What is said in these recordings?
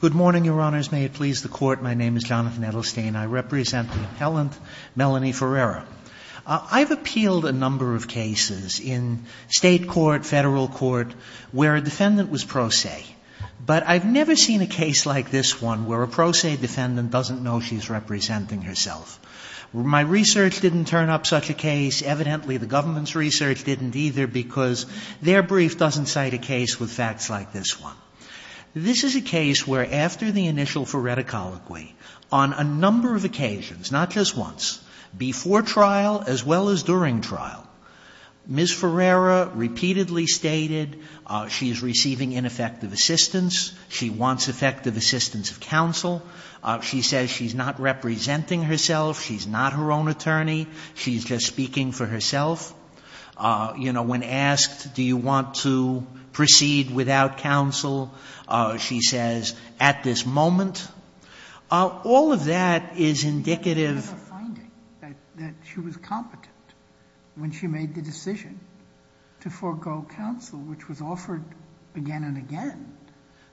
Good morning, Your Honors. May it please the Court, my name is Jonathan Edelstein. I represent the appellant, Melanie Ferreira. I've appealed a number of cases in State court, Federal court, where a defendant was pro se, but I've never seen a case like this one where a pro se defendant doesn't know she's representing herself. My research didn't turn up such a case. Evidently, the government's research didn't either because their brief doesn't cite a case with facts like this one. This is a case where after the initial phoreticology, on a number of occasions, not just once, before trial as well as during trial, Ms. Ferreira repeatedly stated she's receiving ineffective assistance, she wants effective assistance of counsel, she says she's not representing herself, she's not her own attorney, she's just speaking for herself. You know, when asked, do you want to proceed without counsel, she says, at this moment. All of that is indicative of a finding that she was competent when she made the decision to forego counsel, which was offered again and again.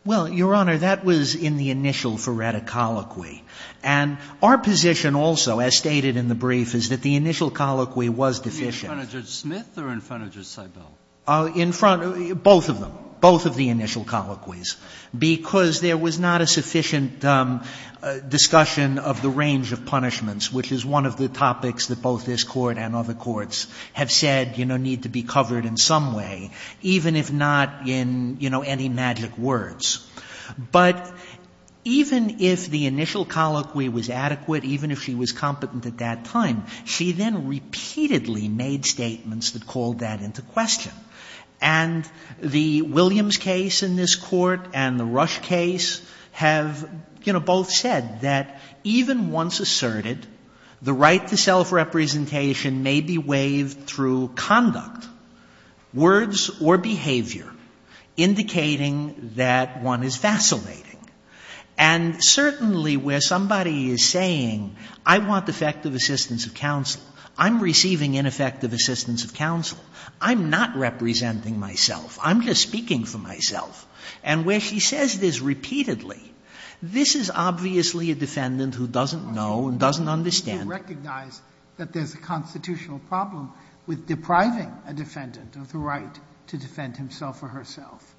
Well, Your Honor, that was in the initial phoreticology. And our position also, as stated in the brief, is that the initial colloquies were in front of Judge Smith or in front of Judge Seibel? In front, both of them, both of the initial colloquies, because there was not a sufficient discussion of the range of punishments, which is one of the topics that both this Court and other courts have said, you know, need to be covered in some way, even if not in, you know, any magic words. But even if the initial colloquy was adequate, even if she was competent at that time, she then repeatedly made statements that called that into question. And the Williams case in this Court and the Rush case have, you know, both said that even once asserted, the right to self-representation may be waived through conduct, words or behavior, indicating that one is vacillating. And certainly where somebody is saying, I want effective assistance of counsel, I'm receiving ineffective assistance of counsel, I'm not representing myself, I'm just speaking for myself, and where she says this repeatedly, this is obviously a defendant who doesn't know and doesn't understand. Do you recognize that there's a constitutional problem with depriving a defendant of the right to defend himself or herself?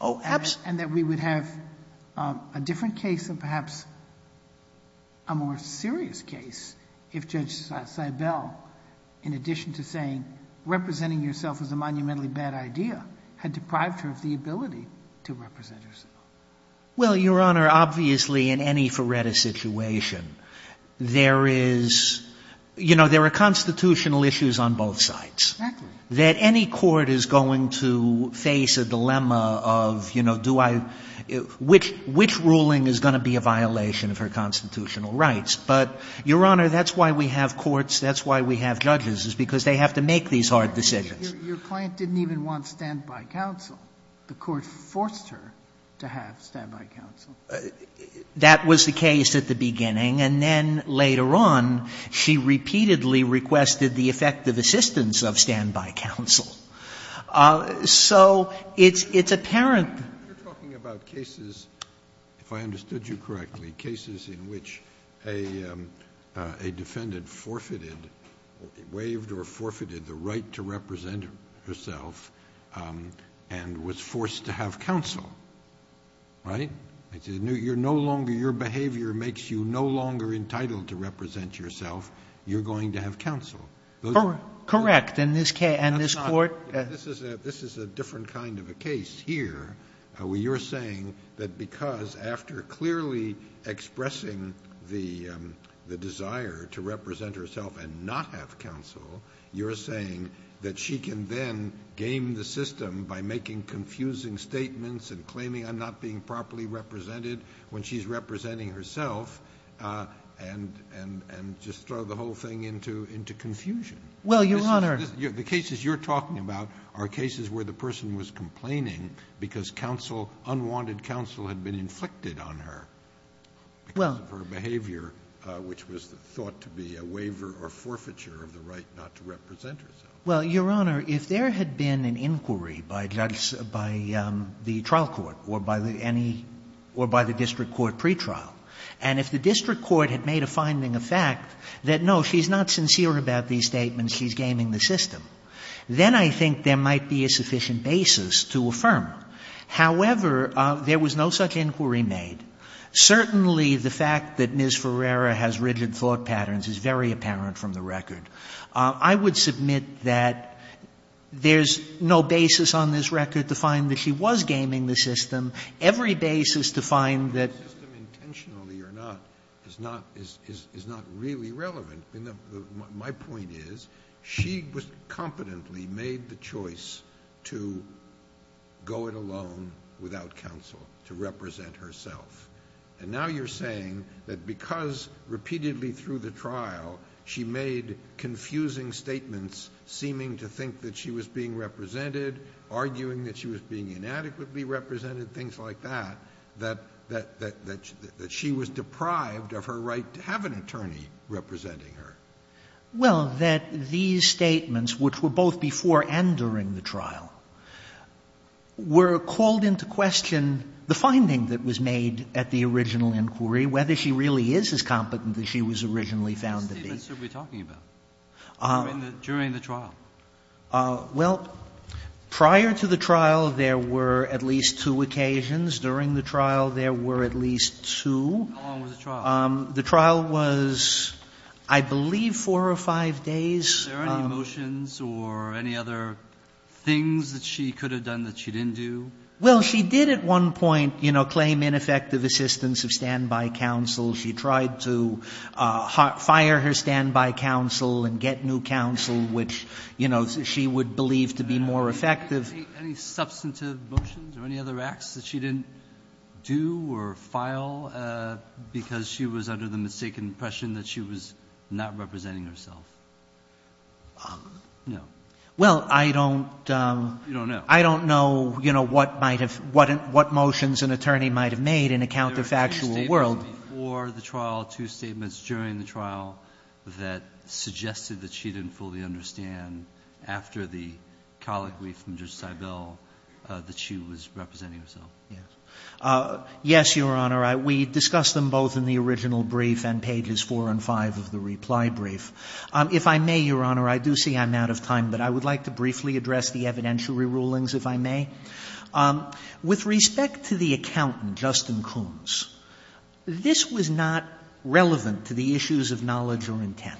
Oh, absolutely. And that we would have a different case and perhaps a more serious case if Judge Seibel, in addition to saying representing yourself is a monumentally bad idea, had deprived her of the ability to represent herself. Well, Your Honor, obviously in any Faretta situation, there is, you know, there are constitutional issues on both sides. Exactly. That any court is going to face a dilemma of, you know, do I – which ruling is going to be a violation of her constitutional rights. But, Your Honor, that's why we have courts, that's why we have judges, is because they have to make these hard decisions. Your client didn't even want standby counsel. The court forced her to have standby counsel. That was the case at the beginning. And then later on, she repeatedly requested the effective assistance of standby counsel. So it's apparent. You're talking about cases, if I understood you correctly, cases in which a defendant forfeited, waived or forfeited the right to represent herself and was forced to have counsel, right? You're no longer – your behavior makes you no longer entitled to represent yourself. You're going to have counsel. Correct. And this case – and this court – This is a different kind of a case here, where you're saying that because after clearly expressing the desire to represent herself and not have counsel, you're saying that she can then game the system by making confusing statements and claiming I'm not being properly represented when she's representing herself and just throw the whole thing into confusion. Well, Your Honor – The cases you're talking about are cases where the person was complaining because counsel, unwanted counsel, had been inflicted on her because of her behavior, which was thought to be a waiver or forfeiture of the right not to represent herself. Well, Your Honor, if there had been an inquiry by the trial court or by any – or by the district court pretrial, and if the district court had made a finding of fact that, no, she's not sincere about these statements, she's gaming the system, then I think there might be a sufficient basis to affirm. However, there was no such inquiry made. Certainly, the fact that Ms. Ferreira has rigid thought patterns is very apparent from the record. I would submit that there's no basis on this record to find that she was gaming the system. Every basis to find that – The system, intentionally or not, is not really relevant. My point is, she competently made the choice to go it alone without counsel, to represent herself. And now you're saying that because, repeatedly through the trial, she made confusing statements seeming to think that she was being represented, arguing that she was being inadequately represented, things like that, that she was deprived of her right to have an attorney representing her. Well, that these statements, which were both before and during the trial, were called into question the finding that was made at the original inquiry, whether she really is as competent as she was originally found to be. What statements are we talking about during the trial? Well, prior to the trial, there were at least two occasions. During the trial, there were at least two. How long was the trial? The trial was, I believe, four or five days. Were there any motions or any other things that she could have done that she didn't do? Well, she did at one point, you know, claim ineffective assistance of standby counsel. She tried to fire her standby counsel and get new counsel, which, you know, she would believe to be more effective. Any substantive motions or any other acts that she didn't do or file because she was under the mistaken impression that she was not representing herself? No. Well, I don't. You don't know. I don't know, you know, what might have what what motions an attorney might have made in account of actual world or the trial. Two statements during the trial that suggested that she didn't fully understand after the colloquy from Judge Seibel that she was representing herself. Yes, Your Honor. We discussed them both in the original brief and pages four and five of the reply brief. If I may, Your Honor, I do see I'm out of time, but I would like to briefly address the evidentiary rulings, if I may. With respect to the accountant, Justin Coons, this was not relevant to the issues of knowledge or intent.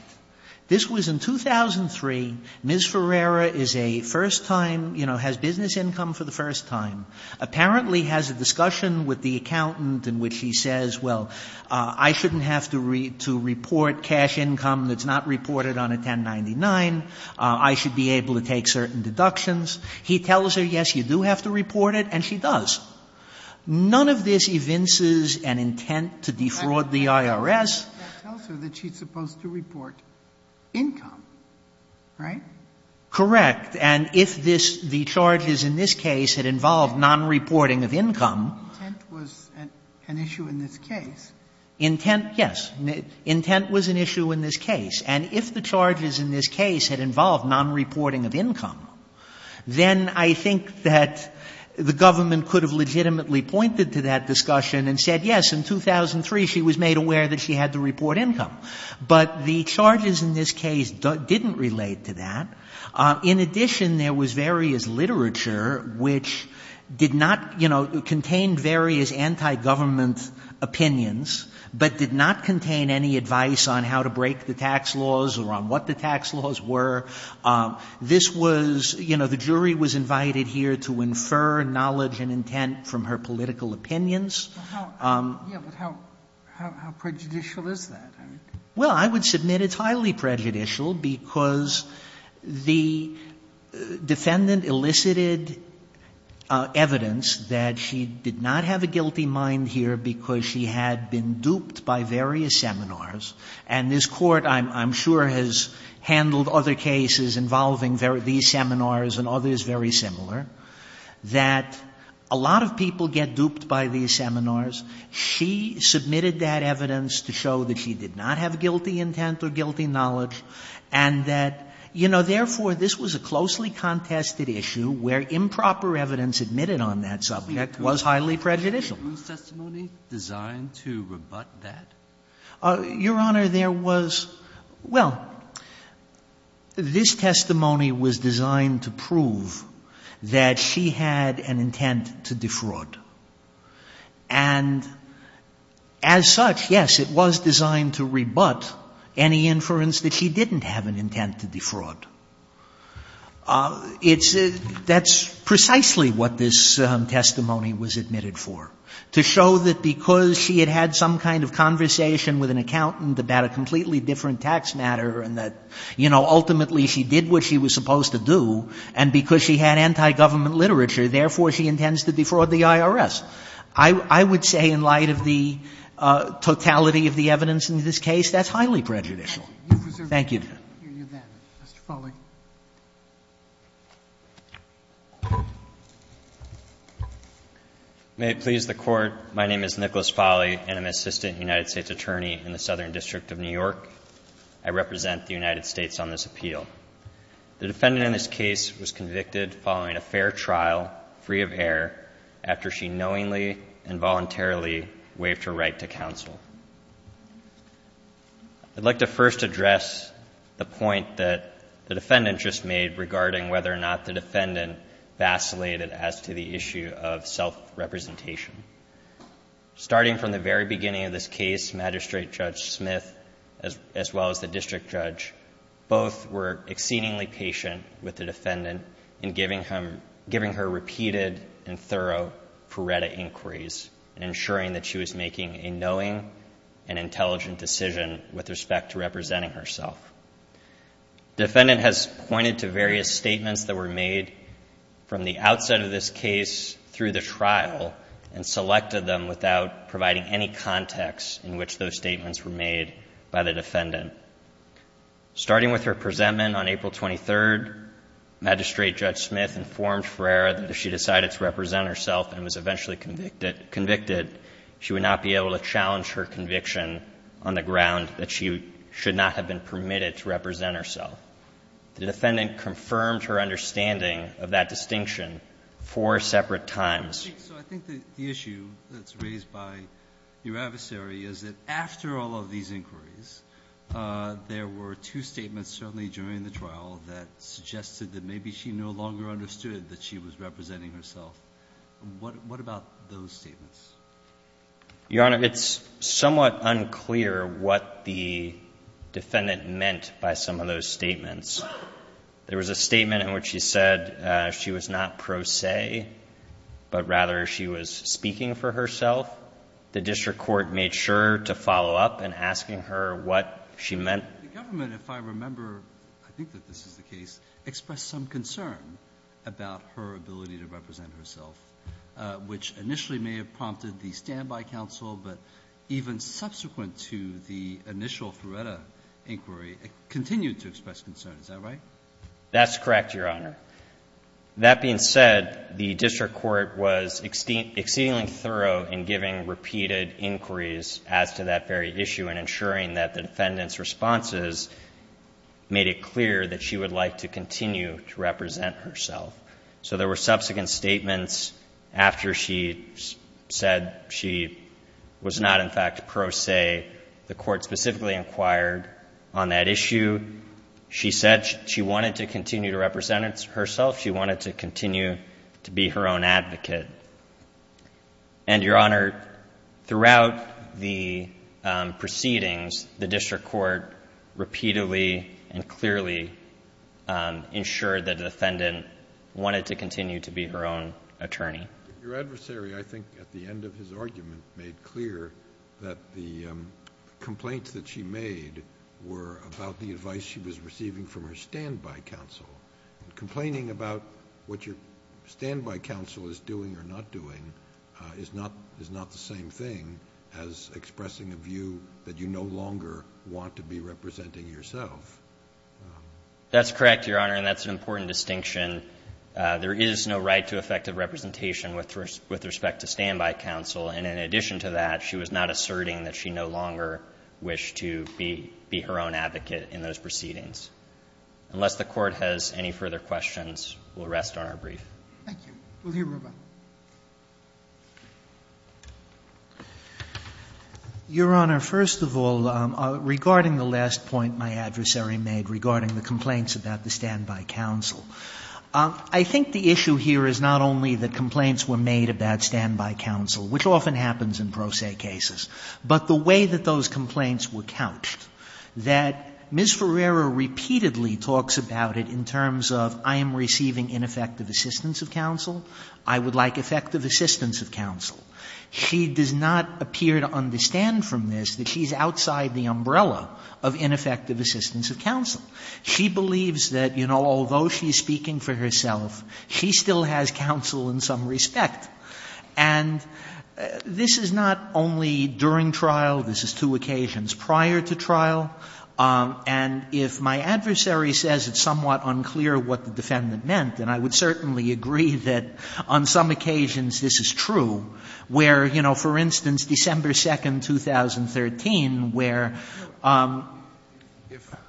This was in 2003. Ms. Ferreira is a first-time, you know, has business income for the first time, apparently has a discussion with the accountant in which he says, well, I shouldn't have to report cash income that's not reported on a 1099. I should be able to take certain deductions. He tells her, yes, you do have to report it, and she does. None of this evinces an intent to defraud the IRS. That tells her that she's supposed to report income, right? Correct. And if this, the charges in this case had involved non-reporting of income. Intent was an issue in this case. Intent, yes. Intent was an issue in this case. And if the charges in this case had involved non-reporting of income, then I think that the government could have legitimately pointed to that discussion and said, yes, in 2003 she was made aware that she had to report income. But the charges in this case didn't relate to that. In addition, there was various literature which did not, you know, contained various anti-government opinions, but did not contain any advice on how to break the tax laws or on what the tax laws were. This was, you know, the jury was invited here to infer knowledge and intent from her political opinions. Yeah, but how prejudicial is that? Well, I would submit it's highly prejudicial because the defendant elicited evidence that she did not have a guilty mind here because she had been duped by various seminars. And this Court, I'm sure, has handled other cases involving these seminars and others very similar, that a lot of people get duped by these seminars. She submitted that evidence to show that she did not have guilty intent or guilty knowledge and that, you know, therefore, this was a closely contested issue where improper evidence admitted on that subject was highly prejudicial. Was this testimony designed to rebut that? Your Honor, there was — well, this testimony was designed to prove that she had an intent to defraud. And as such, yes, it was designed to rebut any inference that she didn't have an intent to defraud. It's — that's precisely what this testimony was admitted for, to show that because she had had some kind of conversation with an accountant about a completely different tax matter and that, you know, ultimately she did what she was supposed to do and because she had anti-government literature, therefore, she intends to defraud the IRS. I would say in light of the totality of the evidence in this case, that's highly prejudicial. Thank you, Your Honor. Roberts. Mr. Folley. Nicholas Folley, Jr. May it please the Court, my name is Nicholas Folley and I'm an assistant United States attorney in the Southern District of New York. I represent the United States on this appeal. The defendant in this case was convicted following a fair trial, free of error, after she knowingly and voluntarily waived her right to counsel. I'd like to first address the point that the defendant just made regarding whether or not the defendant vacillated as to the issue of self-representation. Starting from the very beginning of this case, Magistrate Judge Smith, as well as the defendants, were exceedingly patient with the defendant in giving her repeated and thorough paretta inquiries, ensuring that she was making a knowing and intelligent decision with respect to representing herself. Defendant has pointed to various statements that were made from the outset of this case through the trial and selected them without providing any context in which those statements were made by the defendant. Starting with her presentment on April 23rd, Magistrate Judge Smith informed Ferreira that if she decided to represent herself and was eventually convicted, she would not be able to challenge her conviction on the ground that she should not have been permitted to represent herself. The defendant confirmed her understanding of that distinction four separate times. So I think the issue that's raised by your adversary is that after all of these inquiries, there were two statements certainly during the trial that suggested that maybe she no longer understood that she was representing herself. What about those statements? Your Honor, it's somewhat unclear what the defendant meant by some of those statements. There was a statement in which she said she was not pro se, but rather she was speaking for herself. The district court made sure to follow up in asking her what she meant. The government, if I remember, I think that this is the case, expressed some concern about her ability to represent herself, which initially may have prompted the standby counsel, but even subsequent to the initial Ferreira inquiry, continued to express concern. Is that right? That's correct, Your Honor. That being said, the district court was exceedingly thorough in giving repeated inquiries as to that very issue and ensuring that the defendant's responses made it clear that she would like to continue to represent herself. So there were subsequent statements after she said she was not in fact pro se. The Court specifically inquired on that issue. She said she wanted to continue to represent herself. She wanted to continue to be her own advocate. And, Your Honor, throughout the proceedings, the district court repeatedly and clearly ensured that the defendant wanted to continue to be her own attorney. Your adversary, I think, at the end of his argument, made clear that the complaints that she made were about the advice she was receiving from her standby counsel. Complaining about what your standby counsel is doing or not doing is not the same thing as expressing a view that you no longer want to be representing yourself. That's correct, Your Honor, and that's an important distinction. There is no right to effective representation with respect to standby counsel, and in addition to that, she was not asserting that she no longer wished to be her own advocate in those proceedings. Unless the Court has any further questions, we'll rest on our brief. Thank you. We'll hear Ruben. Your Honor, first of all, regarding the last point my adversary made regarding the complaints about the standby counsel, I think the issue here is not only that complaints were made about standby counsel, which often happens in pro se cases, but the way that those complaints were couched, that Ms. Ferreira repeatedly talks about it in terms of I am receiving ineffective assistance of counsel, I would like effective assistance of counsel. She does not appear to understand from this that she's outside the umbrella of ineffective assistance of counsel. She believes that, you know, although she's speaking for herself, she still has counsel in some respect. And this is not only during trial. This is two occasions prior to trial, and if my adversary says it's somewhat unclear what the defendant meant, then I would certainly agree that on some occasions this is true, where, you know, for instance, December 2, 2013, where...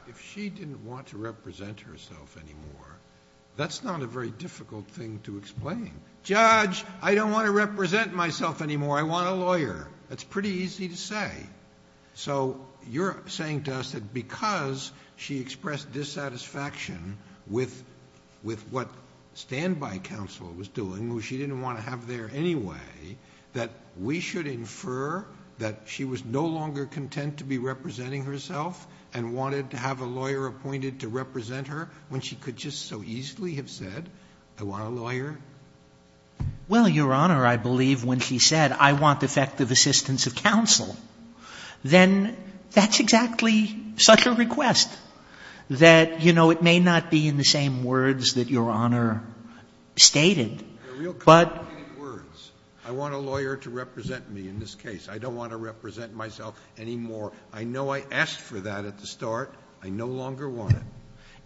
If she didn't want to represent herself anymore, that's not a very difficult thing to explain. Judge, I don't want to represent myself anymore. I want a lawyer. That's pretty easy to say. So you're saying to us that because she expressed dissatisfaction with what standby counsel was doing, who she didn't want to have there anyway, that we should be content to be representing herself and wanted to have a lawyer appointed to represent her when she could just so easily have said, I want a lawyer? Well, Your Honor, I believe when she said, I want effective assistance of counsel, then that's exactly such a request, that, you know, it may not be in the same words that Your Honor stated, but... They're real complicated words. I want a lawyer to represent me in this case. I don't want to represent myself anymore. I know I asked for that at the start. I no longer want it.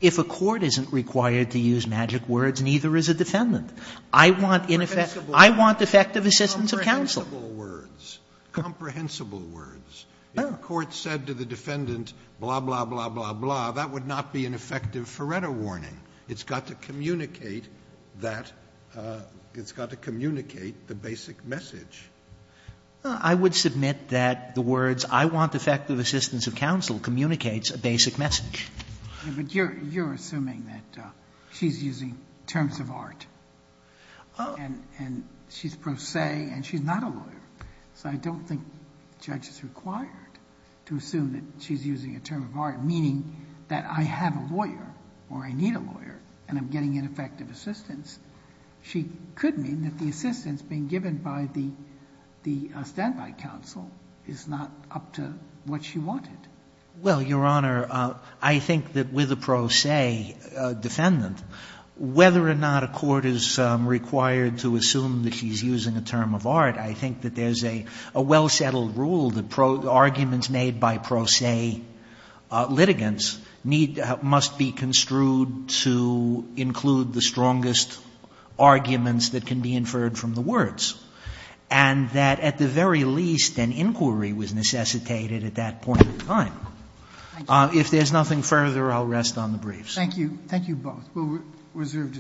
If a court isn't required to use magic words, neither is a defendant. I want ineffective assistance of counsel. Comprehensible words, comprehensible words. If a court said to the defendant, blah, blah, blah, blah, blah, that would not be an effective Faretto warning. It's got to communicate that the basic message. I would submit that the words, I want effective assistance of counsel, communicates a basic message. But you're assuming that she's using terms of art and she's pro se and she's not a lawyer. So I don't think the judge is required to assume that she's using a term of art, meaning that I have a lawyer or I need a lawyer and I'm getting ineffective assistance. She could mean that the assistance being given by the standby counsel is not up to what she wanted. Sotomayor Well, Your Honor, I think that with a pro se defendant, whether or not a court is required to assume that she's using a term of art, I think that there's a well-settled rule that arguments made by pro se litigants must be construed to include the strongest arguments that can be inferred from the words. And that at the very least, an inquiry was necessitated at that point in time. If there's nothing further, I'll rest on the briefs. Sotomayor Thank you. Thank you both.